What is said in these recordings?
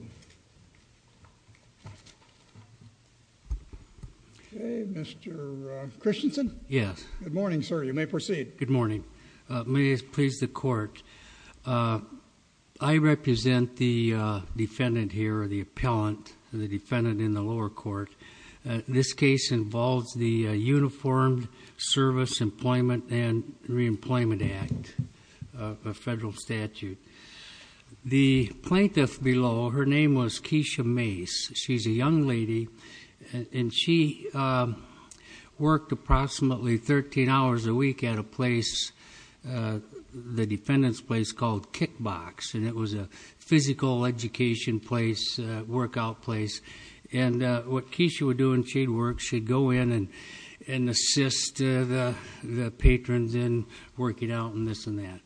Ok, Mr. Christensen. Yes. Good morning, sir. You may proceed. Good morning. May it please the court. I represent the defendant here, the appellant, the defendant in the lower court. This case involves the Uniformed Service Employment and Reemployment Act, a federal statute. The plaintiff below, her name was Kieshia Mace. She's a young lady, and she worked approximately 13 hours a week at a place, the defendant's place, called Kickbox. And it was a physical education place, workout place. And what Kieshia would do when she'd go in and assist the patrons in working out and this and that.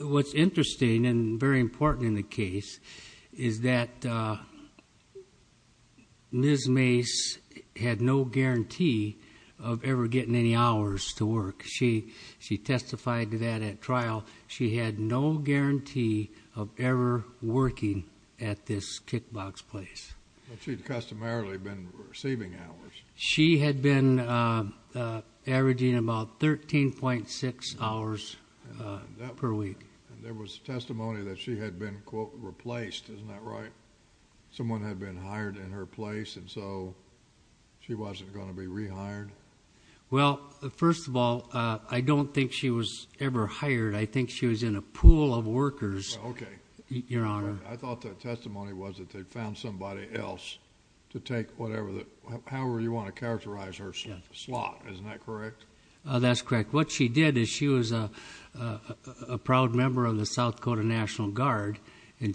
What's interesting and very important in the case is that Ms. Mace had no guarantee of ever getting any hours to work. She testified to that at trial. She had no guarantee of ever working at this Kickbox place. But she'd customarily been receiving hours. She had been averaging about 13.6 hours per week. And there was testimony that she had been, quote, replaced. Isn't that right? Someone had been hired in her place, and so she wasn't going to be rehired? Well, first of all, I don't think she was ever hired. I think she was in a pool of workers. Okay. Your Honor. I thought that testimony was that they found somebody else to take whatever, however you want to characterize her slot. Isn't that correct? That's correct. What she did is she was a proud member of the South Dakota National Guard, and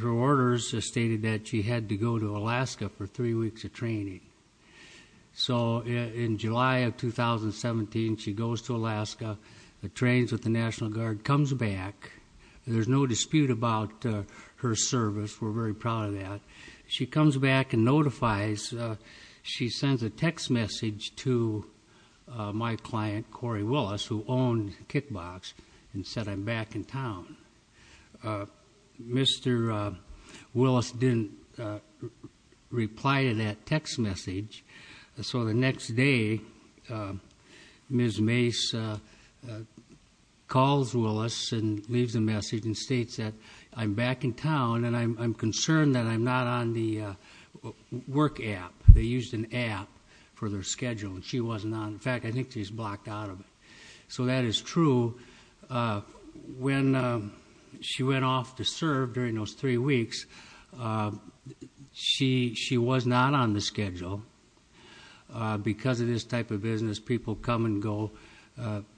her orders stated that she had to go to Alaska for three weeks of training. So in July of 2017, she goes to Alaska, trains with the her service. We're very proud of that. She comes back and notifies, she sends a text message to my client, Corey Willis, who owned Kickbox, and said, I'm back in town. Mr. Willis didn't reply to that text message. So the next day, Ms. Mace calls Willis and leaves a message and states that I'm back in town, and I'm concerned that I'm not on the work app. They used an app for their schedule, and she wasn't on. In fact, I think she's blocked out of it. So that is true. When she went off to serve during those three weeks, she was not on the schedule. Because of this type of business, people come and go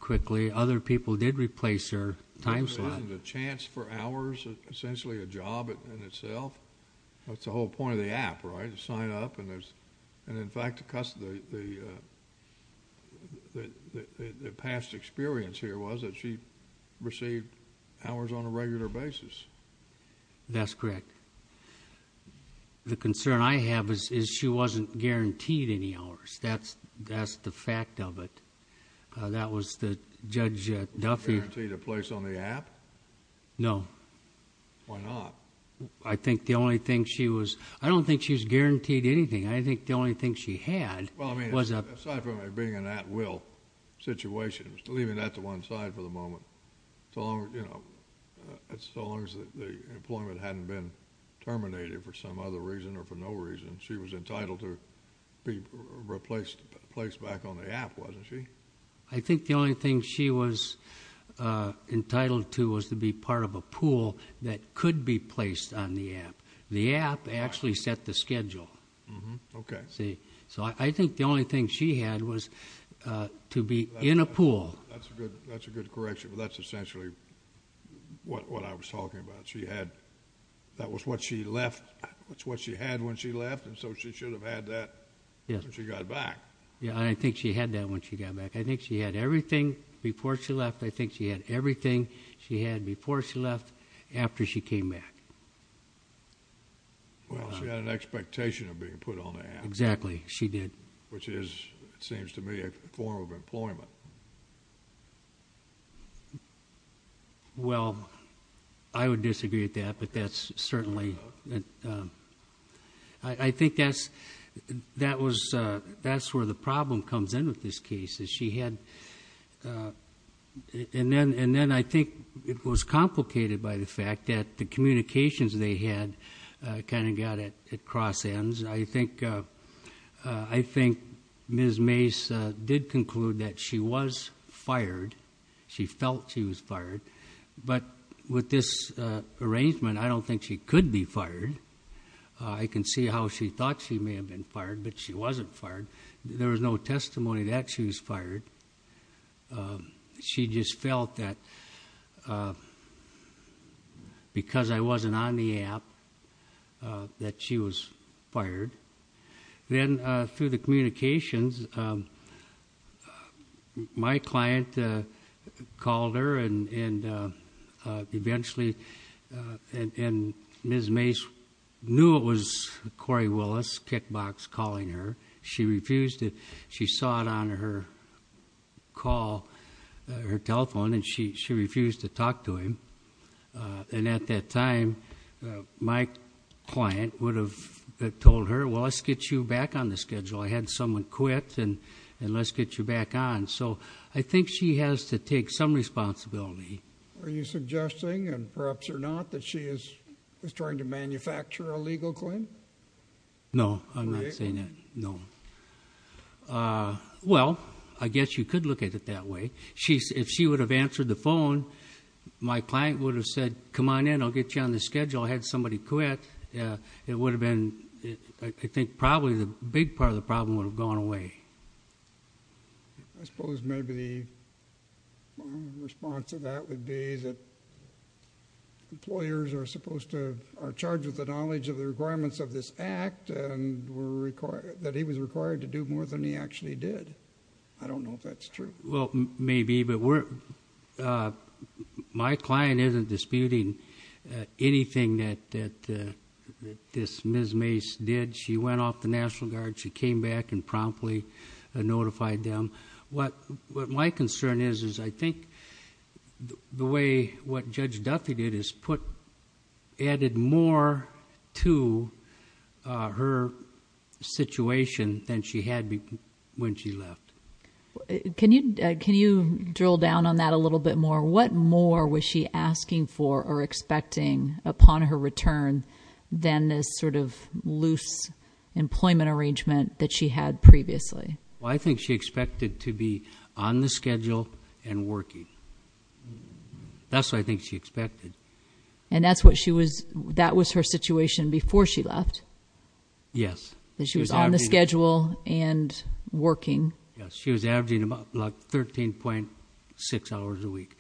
quickly. Other people did replace her time slot. Isn't the chance for hours essentially a job in itself? That's the whole point of the app, right? You sign up, and in fact, the past experience here was that she received hours on a regular basis. That's correct. The concern I have is she wasn't guaranteed any hours. That's the fact of it. That was the judge at Duffy... Guaranteed a place on the app? No. Why not? I think the only thing she was... I don't think she was guaranteed anything. I think the only thing she had was a... Well, I mean, aside from it being an at-will situation, leaving that to one side for the moment, so long as the employment hadn't been replaced back on the app, wasn't she? I think the only thing she was entitled to was to be part of a pool that could be placed on the app. The app actually set the schedule. Okay. So I think the only thing she had was to be in a pool. That's a good correction, but that's essentially what I was talking about. She had... That was what she had when she left, and so she should have had that when she got back. Yeah, and I think she had that when she got back. I think she had everything before she left. I think she had everything she had before she left after she came back. Well, she had an expectation of being put on the app. Exactly. She did. Which is, it seems to me, a form of employment. Well, I would disagree with that, but that's certainly... I think that's where the problem comes in with this case, is she had... And then I think it was complicated by the fact that the communications they had kind of got at cross ends. I think Ms. Mace did conclude that she was fired. She felt she was fired, but with this arrangement, I don't think she could be fired. I can see how she thought she may have been fired, but she wasn't fired. There was no testimony that she was fired. She just felt that because I wasn't on the app that she was fired. Then through the communications, my client called her and eventually... And Ms. Mace knew it was Corey Willis, kickbox, calling her. She refused to... My client would have told her, well, let's get you back on the schedule. I had someone quit, and let's get you back on. I think she has to take some responsibility. Are you suggesting, and perhaps or not, that she is trying to manufacture a legal claim? No, I'm not saying that. No. Well, I guess you could look at it that way. If she would have answered the phone, my client would have said, come on in, I'll get you on the schedule. I had somebody quit. It would have been... I think probably the big part of the problem would have gone away. I suppose maybe the response to that would be that employers are supposed to... are charged with the knowledge of the requirements of this act and that he was required to do more than he actually did. I don't know if that's true. Well, maybe, but my client isn't disputing anything that Ms. Mace did. She went off the National Guard. She came back and promptly notified them. What my concern is, is I think the way what Judge Duffy did is added more to her situation than she had when she left. Can you drill down on that a little bit more? What more was she asking for or expecting upon her return than this sort of loose employment arrangement that she had previously? Well, I think she expected to be on the schedule and working. That's what I think she expected. And that's what she was... that was her situation before she left? Yes. She was on the schedule and working? Yes. She was averaging 13.6 hours a week.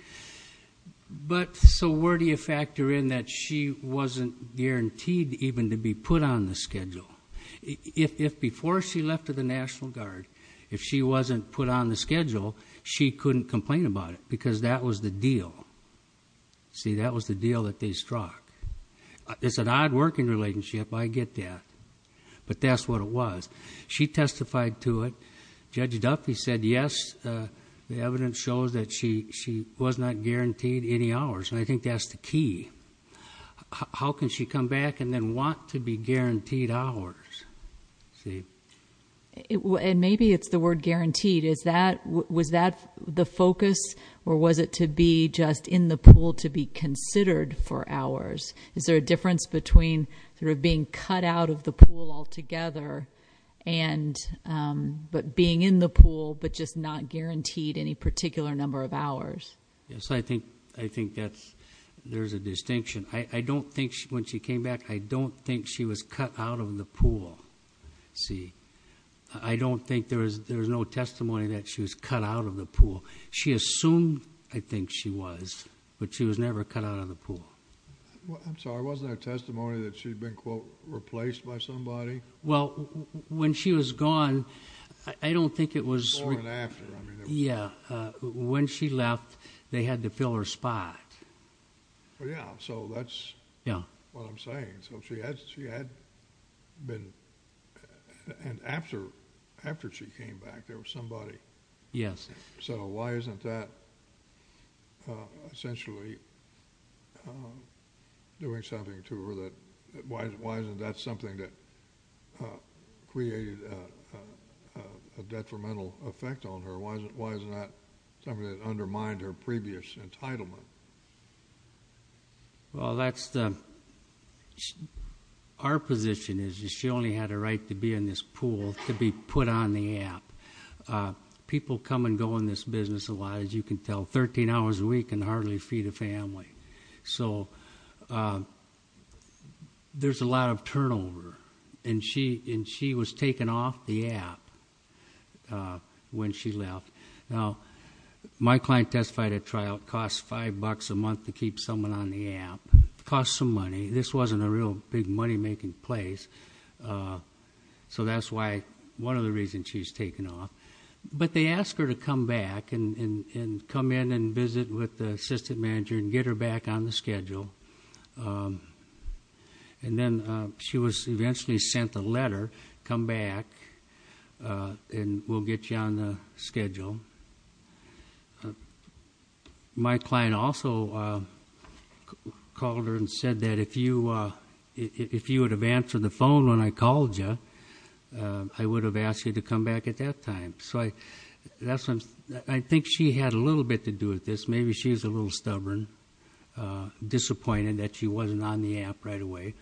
But so where do you factor in that she wasn't guaranteed even to be put on the schedule? If before she left to the National Guard, if she wasn't put on the schedule, she couldn't complain about it because that was the deal. See, that was the deal that they struck. It's an odd working relationship. I get that. But that's what it was. She testified to it. Judge Duffy said, yes, the evidence shows that she was not guaranteed any hours. And I think that's the key. How can she come back and then want to be guaranteed hours? See? And maybe it's the word guaranteed. Is that... was that the focus or was it to be just in the pool to be considered for hours? Is there a difference between sort of being cut out of pool altogether and... but being in the pool but just not guaranteed any particular number of hours? Yes. I think that's... there's a distinction. I don't think when she came back, I don't think she was cut out of the pool. See? I don't think there's no testimony that she was cut out of the pool. She assumed, I think, she was. But she was never cut out of the pool. I'm sorry. Wasn't there testimony that she'd been, quote, replaced by somebody? Well, when she was gone, I don't think it was... Before and after, I mean. Yeah. When she left, they had to fill her spot. Well, yeah. So that's... Yeah.... what I'm saying. So she had been... and after she came back, there was somebody... Yes. So why isn't that essentially doing something to her that... why isn't that something that created a detrimental effect on her? Why isn't that something that undermined her previous entitlement? Well, that's the... Our position is she only had a right to be in this pool to be put on the app. People come and go in this business a lot, as you can tell, 13 hours a week and hardly feed a family. So there's a lot of turnover. And she was taken off the app when she left. Now, my client testified at trial, it costs five bucks a month to keep someone on the app. Costs some money. This wasn't a real big money-making place. So that's why... one of the reasons she was taken off. But they asked her to come back and come in and visit with the assistant manager and get her back on the schedule. And then she was eventually sent a letter, come back, and we'll get you on the schedule. My client also called her and said that if you had answered the phone when I called you, I would have asked you to come back at that time. I think she had a little bit to do with this. Maybe she was a little stubborn, disappointed that she wasn't on the app right away.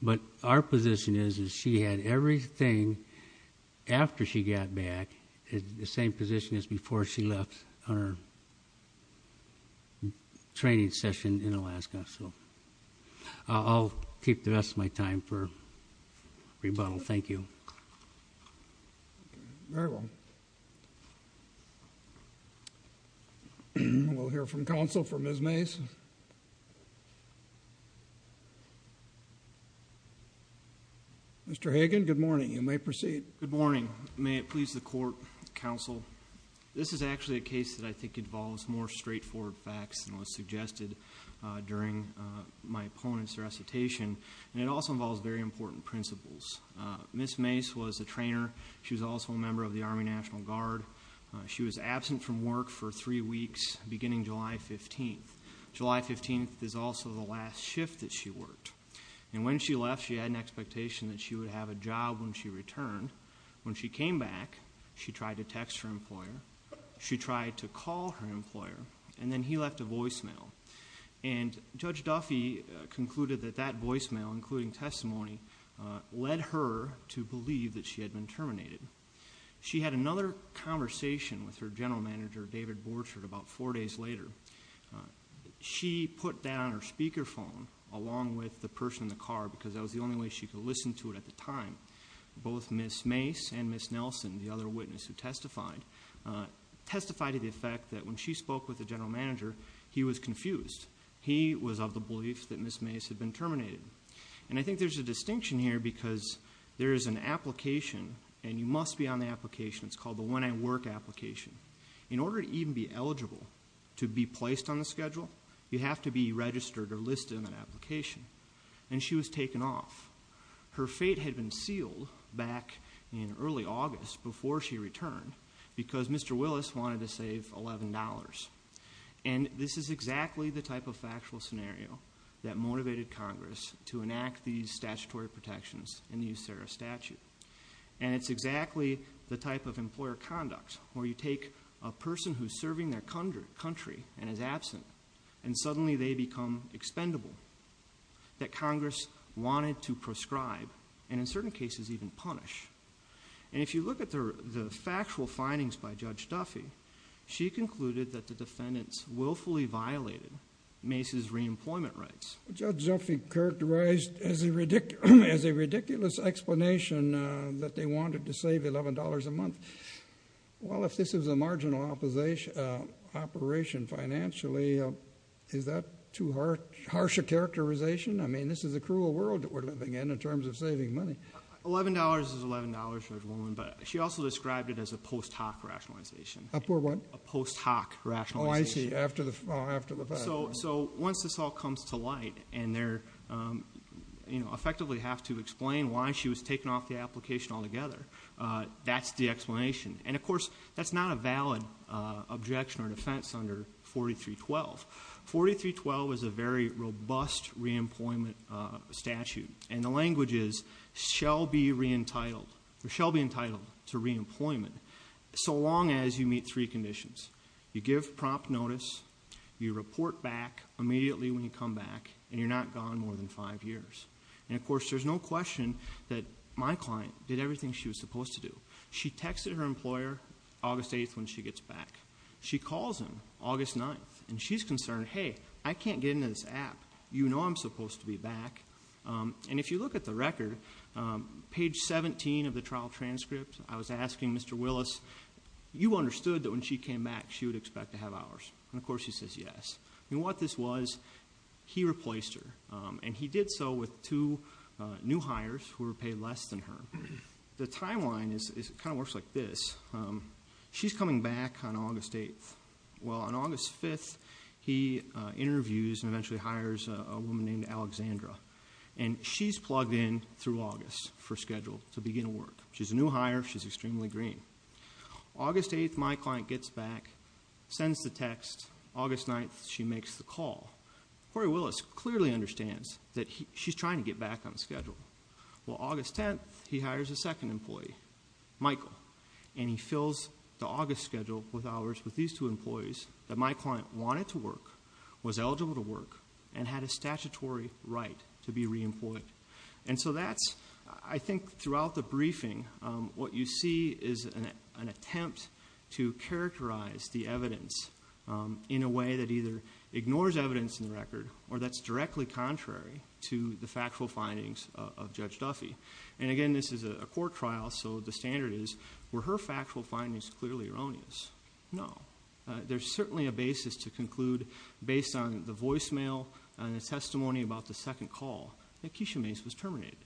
But our position is she had everything after she got back, the same position as before she left on her in Alaska. So I'll keep the rest of my time for rebuttal. Thank you. Very well. We'll hear from counsel for Ms. Mace. Mr. Hagan, good morning. You may proceed. Good morning. May it please the Court, counsel, this is actually a case that I think involves more straightforward facts than was suggested during my opponent's recitation. And it also involves very important principles. Ms. Mace was a trainer. She was also a member of the Army National Guard. She was absent from work for three weeks beginning July 15th. July 15th is also the last shift that she worked. And when she left, she had an expectation that she would have a job when she returned. When she came back, she tried to text her employer. She tried to call her employer. And then he left a voicemail. And Judge Duffy concluded that that voicemail, including testimony, led her to believe that she had been terminated. She had another conversation with her general manager, David Borchardt, about four days later. She put down her speakerphone along with the person in the car because that was the only way she could listen to it at the time. Both Ms. Mace and Ms. Nelson, the other witness who testified, testified to the effect that when she spoke with the general manager, he was confused. He was of the belief that Ms. Mace had been terminated. And I think there's a distinction here because there is an application, and you must be on the application. It's called the When I Work application. In order to even be eligible to be placed on the schedule, you have to be registered or listed on an application. And she was taken off. Her fate had been sealed back in early August before she returned because Mr. Willis wanted to save $11. And this is exactly the type of factual scenario that motivated Congress to enact these statutory protections in the USARA statute. And it's exactly the type of employer conduct where you take a person who's serving their expendable that Congress wanted to prescribe and in certain cases even punish. And if you look at the factual findings by Judge Duffy, she concluded that the defendants willfully violated Mace's reemployment rights. Judge Duffy characterized as a ridiculous explanation that they wanted to save $11 a month. Well, if this is a marginal operation financially, is that too harsh? Harsher characterization? I mean, this is a cruel world that we're living in, in terms of saving money. $11 is $11 for a woman, but she also described it as a post hoc rationalization. A poor what? A post hoc rationalization. Oh, I see. After the fact. So once this all comes to light and they're, you know, effectively have to explain why she was taken off the application altogether, that's the explanation. And of course, that's not a valid objection or defense under 4312. 4312 is a very robust reemployment statute. And the language is shall be reentitled, or shall be entitled to reemployment so long as you meet three conditions. You give prompt notice, you report back immediately when you come back, and you're not gone more than five years. And of course, there's no question that my client did everything she was supposed to do. She texted her employer August 8th when she gets back. She calls him August 9th, and she's concerned, hey, I can't get into this app. You know I'm supposed to be back. And if you look at the record, page 17 of the trial transcript, I was asking Mr. Willis, you understood that when she came back, she would expect to have hours. And of course, he says yes. And what this was, he replaced her. And he did so with two new hires who were paid less than her. The timeline kind of works like this. She's coming back on August 8th. Well, on August 5th, he interviews and eventually hires a woman named Alexandra. And she's plugged in through August for schedule to begin work. She's a new hire. She's extremely green. August 8th, my client gets back, sends the text. August 9th, she makes the call. Corey Willis clearly understands that she's trying to get back on schedule. Well, August 10th, he hires a second employee, Michael. And he fills the August schedule with hours with these two employees that my client wanted to work, was eligible to work, and had a statutory right to be re-employed. And so that's, I think, throughout the briefing, what you see is an attempt to ignore evidence in the record, or that's directly contrary to the factual findings of Judge Duffy. And again, this is a court trial, so the standard is, were her factual findings clearly erroneous? No. There's certainly a basis to conclude, based on the voicemail and the testimony about the second call, that Keisha Mace was terminated.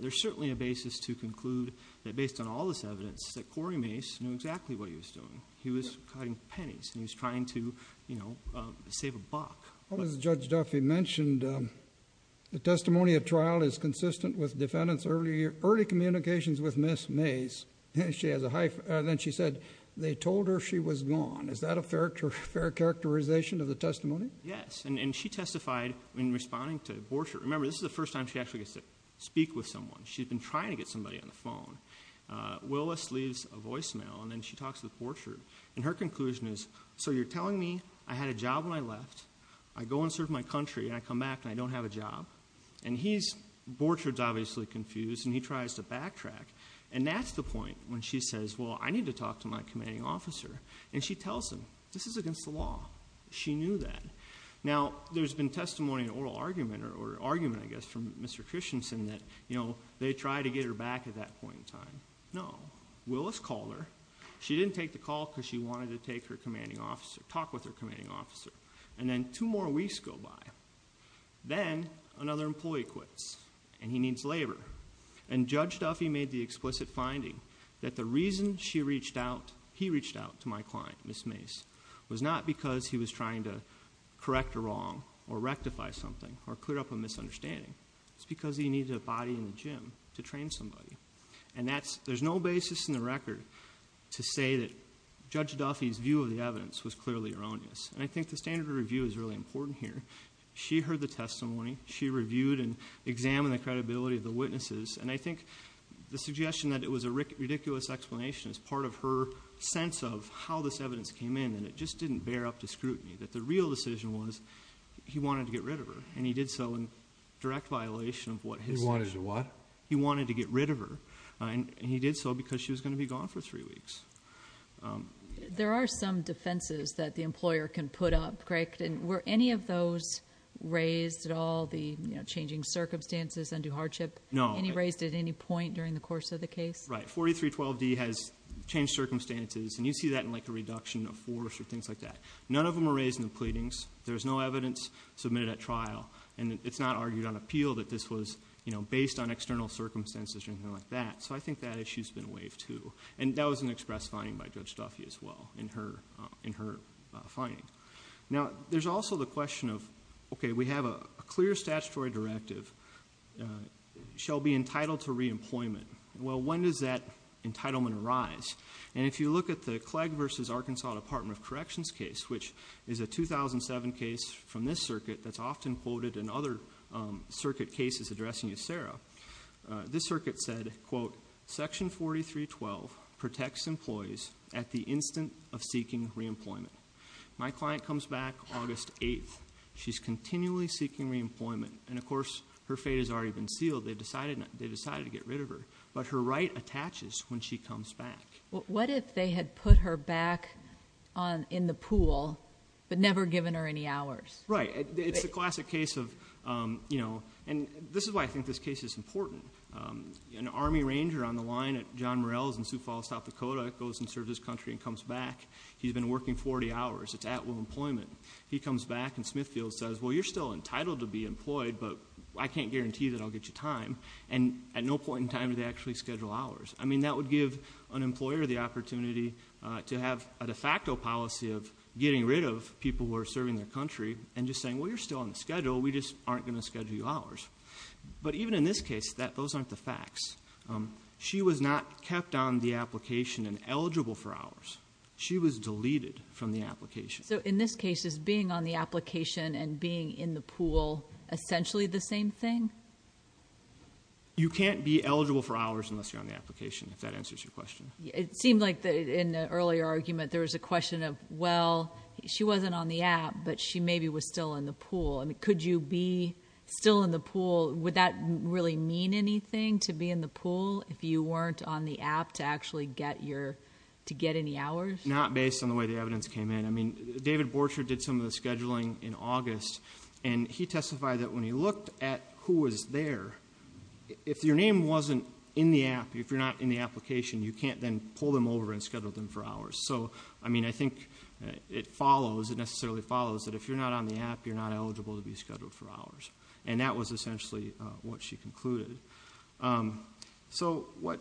There's certainly a basis to conclude that, based on all this evidence, that Corey Mace knew exactly what he was doing. He was cutting pennies, and he was trying to, you know, save a buck. Well, as Judge Duffy mentioned, the testimony at trial is consistent with defendants' early communications with Ms. Mace. And then she said, they told her she was gone. Is that a fair characterization of the testimony? Yes. And she testified in responding to Borchardt. Remember, this is the first time she actually gets to speak with someone. She'd been trying to get somebody on the phone. Willis leaves a voicemail, and then she talks to Borchardt. And her conclusion is, so you're telling me I had a job when I left, I go and serve my country, and I come back and I don't have a job? And he's, Borchardt's obviously confused, and he tries to backtrack. And that's the point when she says, well, I need to talk to my commanding officer. And she tells him, this is against the law. She knew that. Now, there's been testimony and oral argument, or argument, I guess, from Mr. Christensen, that, you know, they tried to get her at that point in time. No. Willis called her. She didn't take the call because she wanted to take her commanding officer, talk with her commanding officer. And then two more weeks go by. Then, another employee quits, and he needs labor. And Judge Duffy made the explicit finding that the reason she reached out, he reached out to my client, Ms. Mace, was not because he was trying to correct a wrong, or rectify something, or clear up a misunderstanding. It's because he needed a body in the gym to train somebody. And that's, there's no basis in the record to say that Judge Duffy's view of the evidence was clearly erroneous. And I think the standard of review is really important here. She heard the testimony. She reviewed and examined the credibility of the witnesses. And I think the suggestion that it was a ridiculous explanation is part of her sense of how this evidence came in, and it just didn't bear up to scrutiny. That the real decision was, he wanted to get rid of her. And he did so in direct violation of what his decision. He wanted to what? He wanted to get rid of her. And he did so because she was going to be gone for three weeks. There are some defenses that the employer can put up, Greg. And were any of those raised at all, the changing circumstances, undue hardship? No. Any raised at any point during the course of the case? Right. 4312D has changed circumstances. And you see that in like a there's no evidence submitted at trial. And it's not argued on appeal that this was, you know, based on external circumstances or anything like that. So I think that issue's been waived too. And that was an express finding by Judge Duffy as well in her finding. Now, there's also the question of, okay, we have a clear statutory directive, shall be entitled to re-employment. Well, when does that entitlement arise? And if you look at the Clegg versus Arkansas Department of Corrections case, which is a 2007 case from this circuit that's often quoted in other circuit cases addressing Ysera, this circuit said, quote, section 4312 protects employees at the instant of seeking re-employment. My client comes back August 8th. She's continually seeking re-employment. And of course, her fate has already been sealed. They decided to get rid of her. But her right attaches when she comes back. What if they had put her back in the pool but never given her any hours? Right. It's a classic case of, you know, and this is why I think this case is important. An Army Ranger on the line at John Morell's in Sioux Falls, South Dakota, goes and serves his country and comes back. He's been working 40 hours. It's at will employment. He comes back and Smithfield says, well, you're still entitled to be employed, but I can't guarantee that I'll get you time. And at no point in time do they actually schedule hours. I mean, that would give an employer the opportunity to have a de facto policy of getting rid of people who are serving their country and just saying, well, you're still on schedule. We just aren't going to schedule you hours. But even in this case, those aren't the facts. She was not kept on the application and eligible for hours. She was deleted from the application. So in this case, is being on the application and being in the pool essentially the same thing? You can't be eligible for hours unless you're on the application, if that answers your question. It seemed like in the earlier argument, there was a question of, well, she wasn't on the app, but she maybe was still in the pool. I mean, could you be still in the pool? Would that really mean anything to be in the pool if you weren't on the app to actually get any hours? Not based on the way the evidence came in. I mean, David Borcher did some of the scheduling in August, and he testified that when he looked at who was there, if your name wasn't in the app, if you're not in the application, you can't then pull them over and schedule them for hours. So, I mean, I think it follows, it necessarily follows that if you're not on the app, you're not eligible to be scheduled for hours. And that was essentially what she concluded. So, what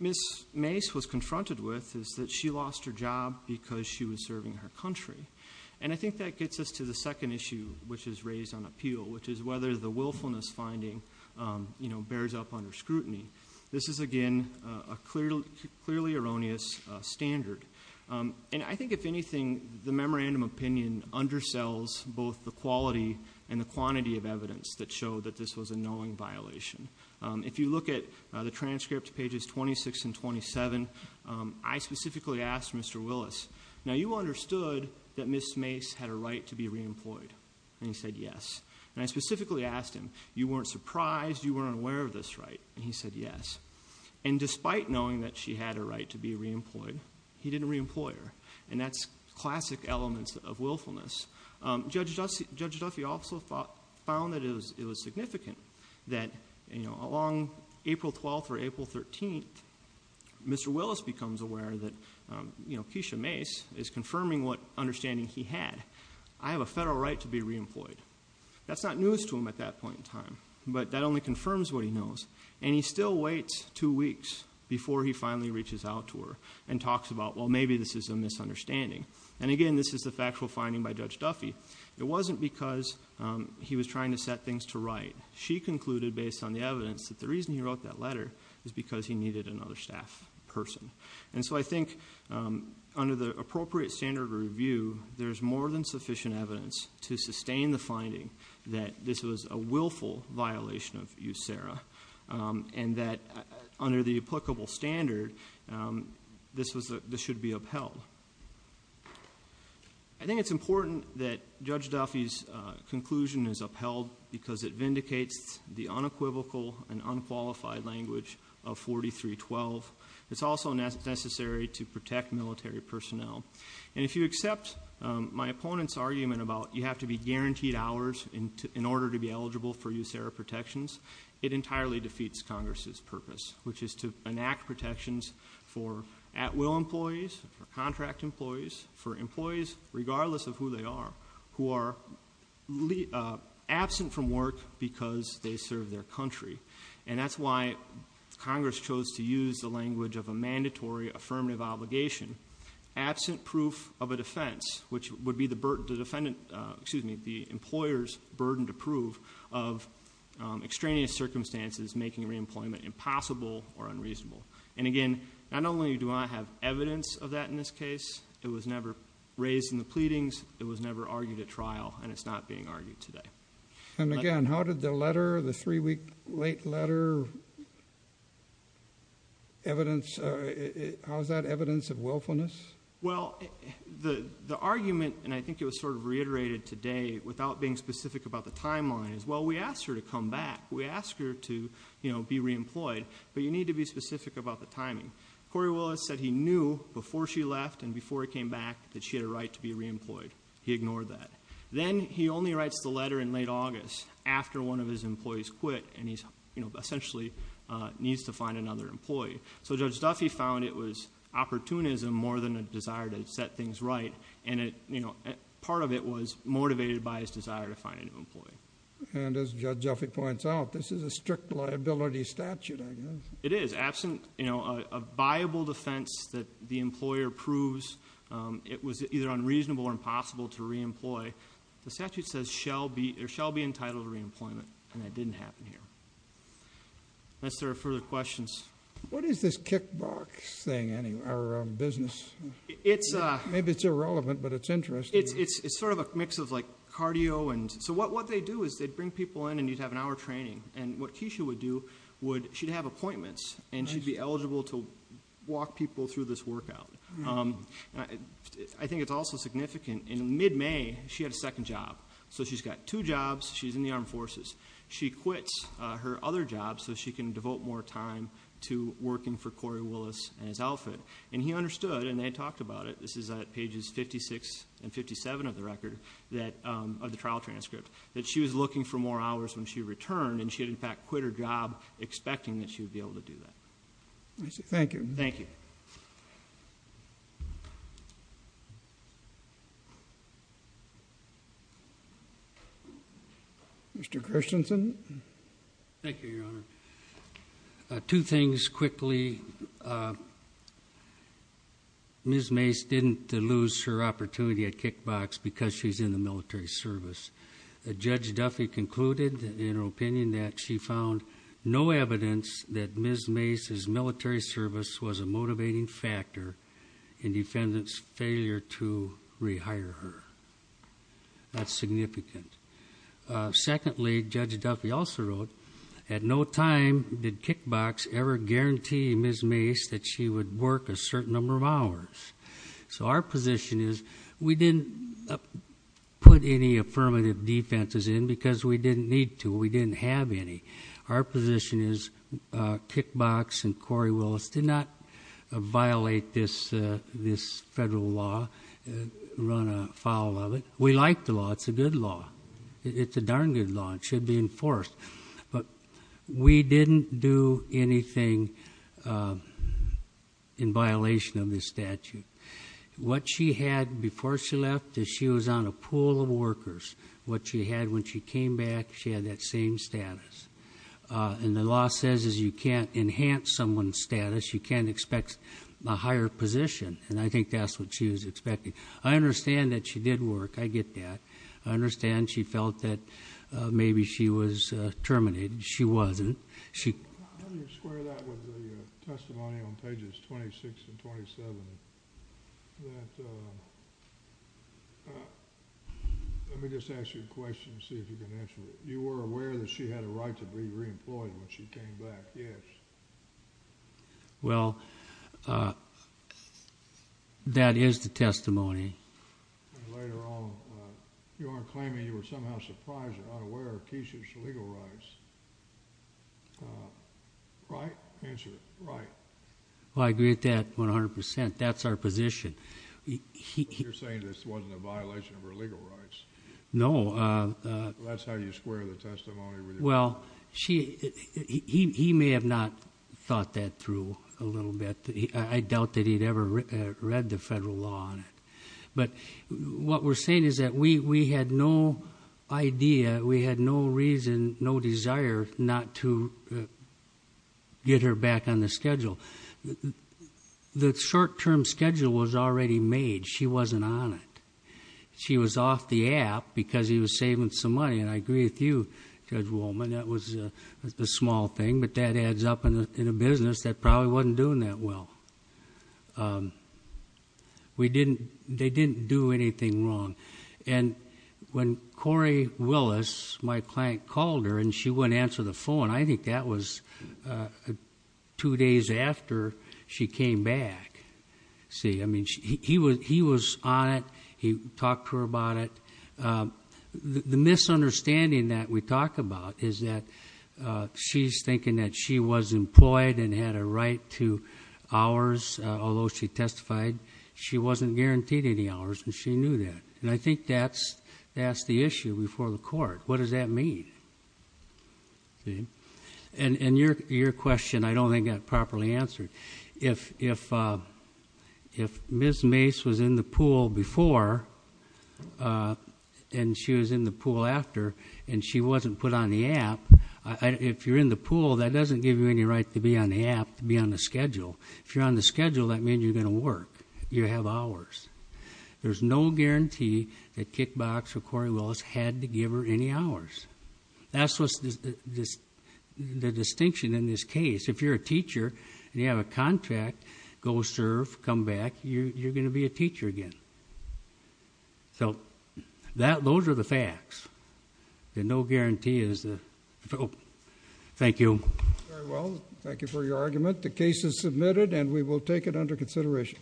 Ms. Mace was confronted with is that she lost her job because she was serving her country. And I think that gets us to the second issue, which is raised on appeal, which is whether the willfulness finding bears up on her scrutiny. This is, again, a clearly erroneous standard. And I think, if anything, the memorandum opinion undersells both the quality and the quantity of evidence that showed that this was a knowing violation. If you look at the transcript, pages 26 and 27, I specifically asked Mr. Willis, now you understood that Ms. Mace had a right to be re-employed? And he said yes. And I specifically asked him, you weren't surprised, you weren't aware of this right? And he said yes. And despite knowing that she had a right to be re-employed, he didn't re-employ her. And that's classic elements of willfulness. Judge Duffy also found that it was significant that, along April 12th or April 13th, Mr. Willis becomes aware that Keisha Mace is confirming what understanding he had. I have a federal right to be re-employed. That's not news to him at that point in time, but that only confirms what he knows. And he still waits two weeks before he finally reaches out to talks about, well maybe this is a misunderstanding. And again, this is a factual finding by Judge Duffy. It wasn't because he was trying to set things to right. She concluded, based on the evidence, that the reason he wrote that letter was because he needed another staff person. And so I think under the appropriate standard of review, there's more than sufficient evidence to sustain the finding that this was a willful violation of USERRA. And that under the applicable standard, this should be upheld. I think it's important that Judge Duffy's conclusion is upheld because it vindicates the unequivocal and unqualified language of 4312. It's also necessary to protect military personnel. And if you accept my opponent's argument about you have to be guaranteed hours in order to be eligible for USERRA protections, it entirely defeats Congress's purpose, which is to enact protections for at-will employees, for contract employees, for employees, regardless of who they are, who are absent from work because they serve their country. And that's why Congress chose to use the language of a mandatory affirmative obligation, absent proof of a defense, which would be the defendant, excuse me, the employer's burden to of extraneous circumstances making reemployment impossible or unreasonable. And again, not only do I have evidence of that in this case, it was never raised in the pleadings, it was never argued at trial, and it's not being argued today. And again, how did the letter, the three-week late letter, evidence, how is that evidence of willfulness? Well, the argument, and I think it sort of reiterated today without being specific about the timeline, is well, we asked her to come back. We asked her to be reemployed, but you need to be specific about the timing. Corey Willis said he knew before she left and before he came back that she had a right to be reemployed. He ignored that. Then he only writes the letter in late August after one of his employees quit, and he essentially needs to find another employee. So Judge Duffy found it was opportunism more than a desire to set things right, and it, you know, part of it was motivated by his desire to find a new employee. And as Judge Duffy points out, this is a strict liability statute, I guess. It is. Absent, you know, a viable defense that the employer proves it was either unreasonable or impossible to reemploy, the statute says shall be, or shall be entitled to reemployment, and that didn't happen here. Unless there are further questions. What is this kickbox thing, our business? Maybe it's irrelevant, but it's interesting. It's sort of a mix of like cardio, and so what they do is they bring people in, and you'd have an hour training, and what Keisha would do would, she'd have appointments, and she'd be eligible to walk people through this workout. I think it's also significant. In mid-May, she had a second job. So she's got two jobs. She's in the armed forces. She quits her other job so she can devote more time to working for Corey Willis and his outfit, and he understood, and they talked about it, this is at pages 56 and 57 of the record, that, of the trial transcript, that she was looking for more hours when she returned, and she had, in fact, quit her job expecting that she would be able to do that. Thank you. Thank you. Mr. Christensen. Thank you, Your Honor. Two things quickly. Ms. Mace didn't lose her opportunity at kickbox because she's in the military service. Judge Duffy concluded, in her opinion, that she found no evidence that Ms. Mace's military service was a motivating factor in defendant's failure to rehire her. That's significant. Secondly, Judge Duffy also wrote, at no time did kickbox ever guarantee Ms. Mace that she would work a certain number of hours. So our position is, we didn't put any affirmative defenses in because we need to. We didn't have any. Our position is kickbox and Corey Willis did not violate this federal law, run afoul of it. We like the law. It's a good law. It's a darn good law. It should be enforced. But we didn't do anything in violation of this statute. What she had before she left is she was on a pool of workers. What she had when she came back, she had that same status. And the law says you can't enhance someone's status. You can't expect a higher position. And I think that's what she was expecting. I understand that she did work. I get that. I understand she felt that maybe she was terminated. She wasn't. How do you square that with the testimony on pages 26 and 27? Let me just ask you a question and see if you can answer it. You were aware that she had a right to be reemployed when she came back, yes? Well, that is the testimony. Later on, you are claiming you were somehow surprised and unaware of Keisha's legal rights. Right? Answer it. Right. Well, I agree with that 100%. That's our position. You're saying this wasn't a violation of her legal rights. No. That's how you square the testimony with her. Well, he may have not thought that through a little bit. I doubt that he'd ever read the federal law on it. But what we're saying is that we had no idea. We had no reason, no desire not to get her back on the schedule. The short-term schedule was already made. She wasn't on it. She was off the app because he was saving some money. And I agree with you, Judge Woolman, that was a small thing. But that adds up in a business that probably wasn't doing that well. They didn't do anything wrong. And when Corey Willis, my client, called her and she wouldn't answer the phone, I think that was two days after she came back. See? I mean, he was on it. He talked to her about it. The misunderstanding that we talk about is that she's thinking that she was employed and had a right to hours, although she testified, she wasn't guaranteed any hours, and she knew that. And I think that's the issue before the court. What does that mean? See? And your question, I don't think got properly answered. If Ms. Mace was in the pool before and she was in the pool after and she wasn't put on the app, if you're in the pool, that doesn't give you any right to be on the app, to be on the schedule. If you're on the schedule, that means you're going to work. You have hours. There's no guarantee that Kickbox or Corey Willis had to give her any hours. That's the distinction in this case. If you're a teacher and you have a contract, go serve, come back, you're going to be a teacher again. So, that, those are the facts. And no guarantee is the, oh, thank you. Very well. Thank you for your argument. The case is submitted and we will take it under consideration.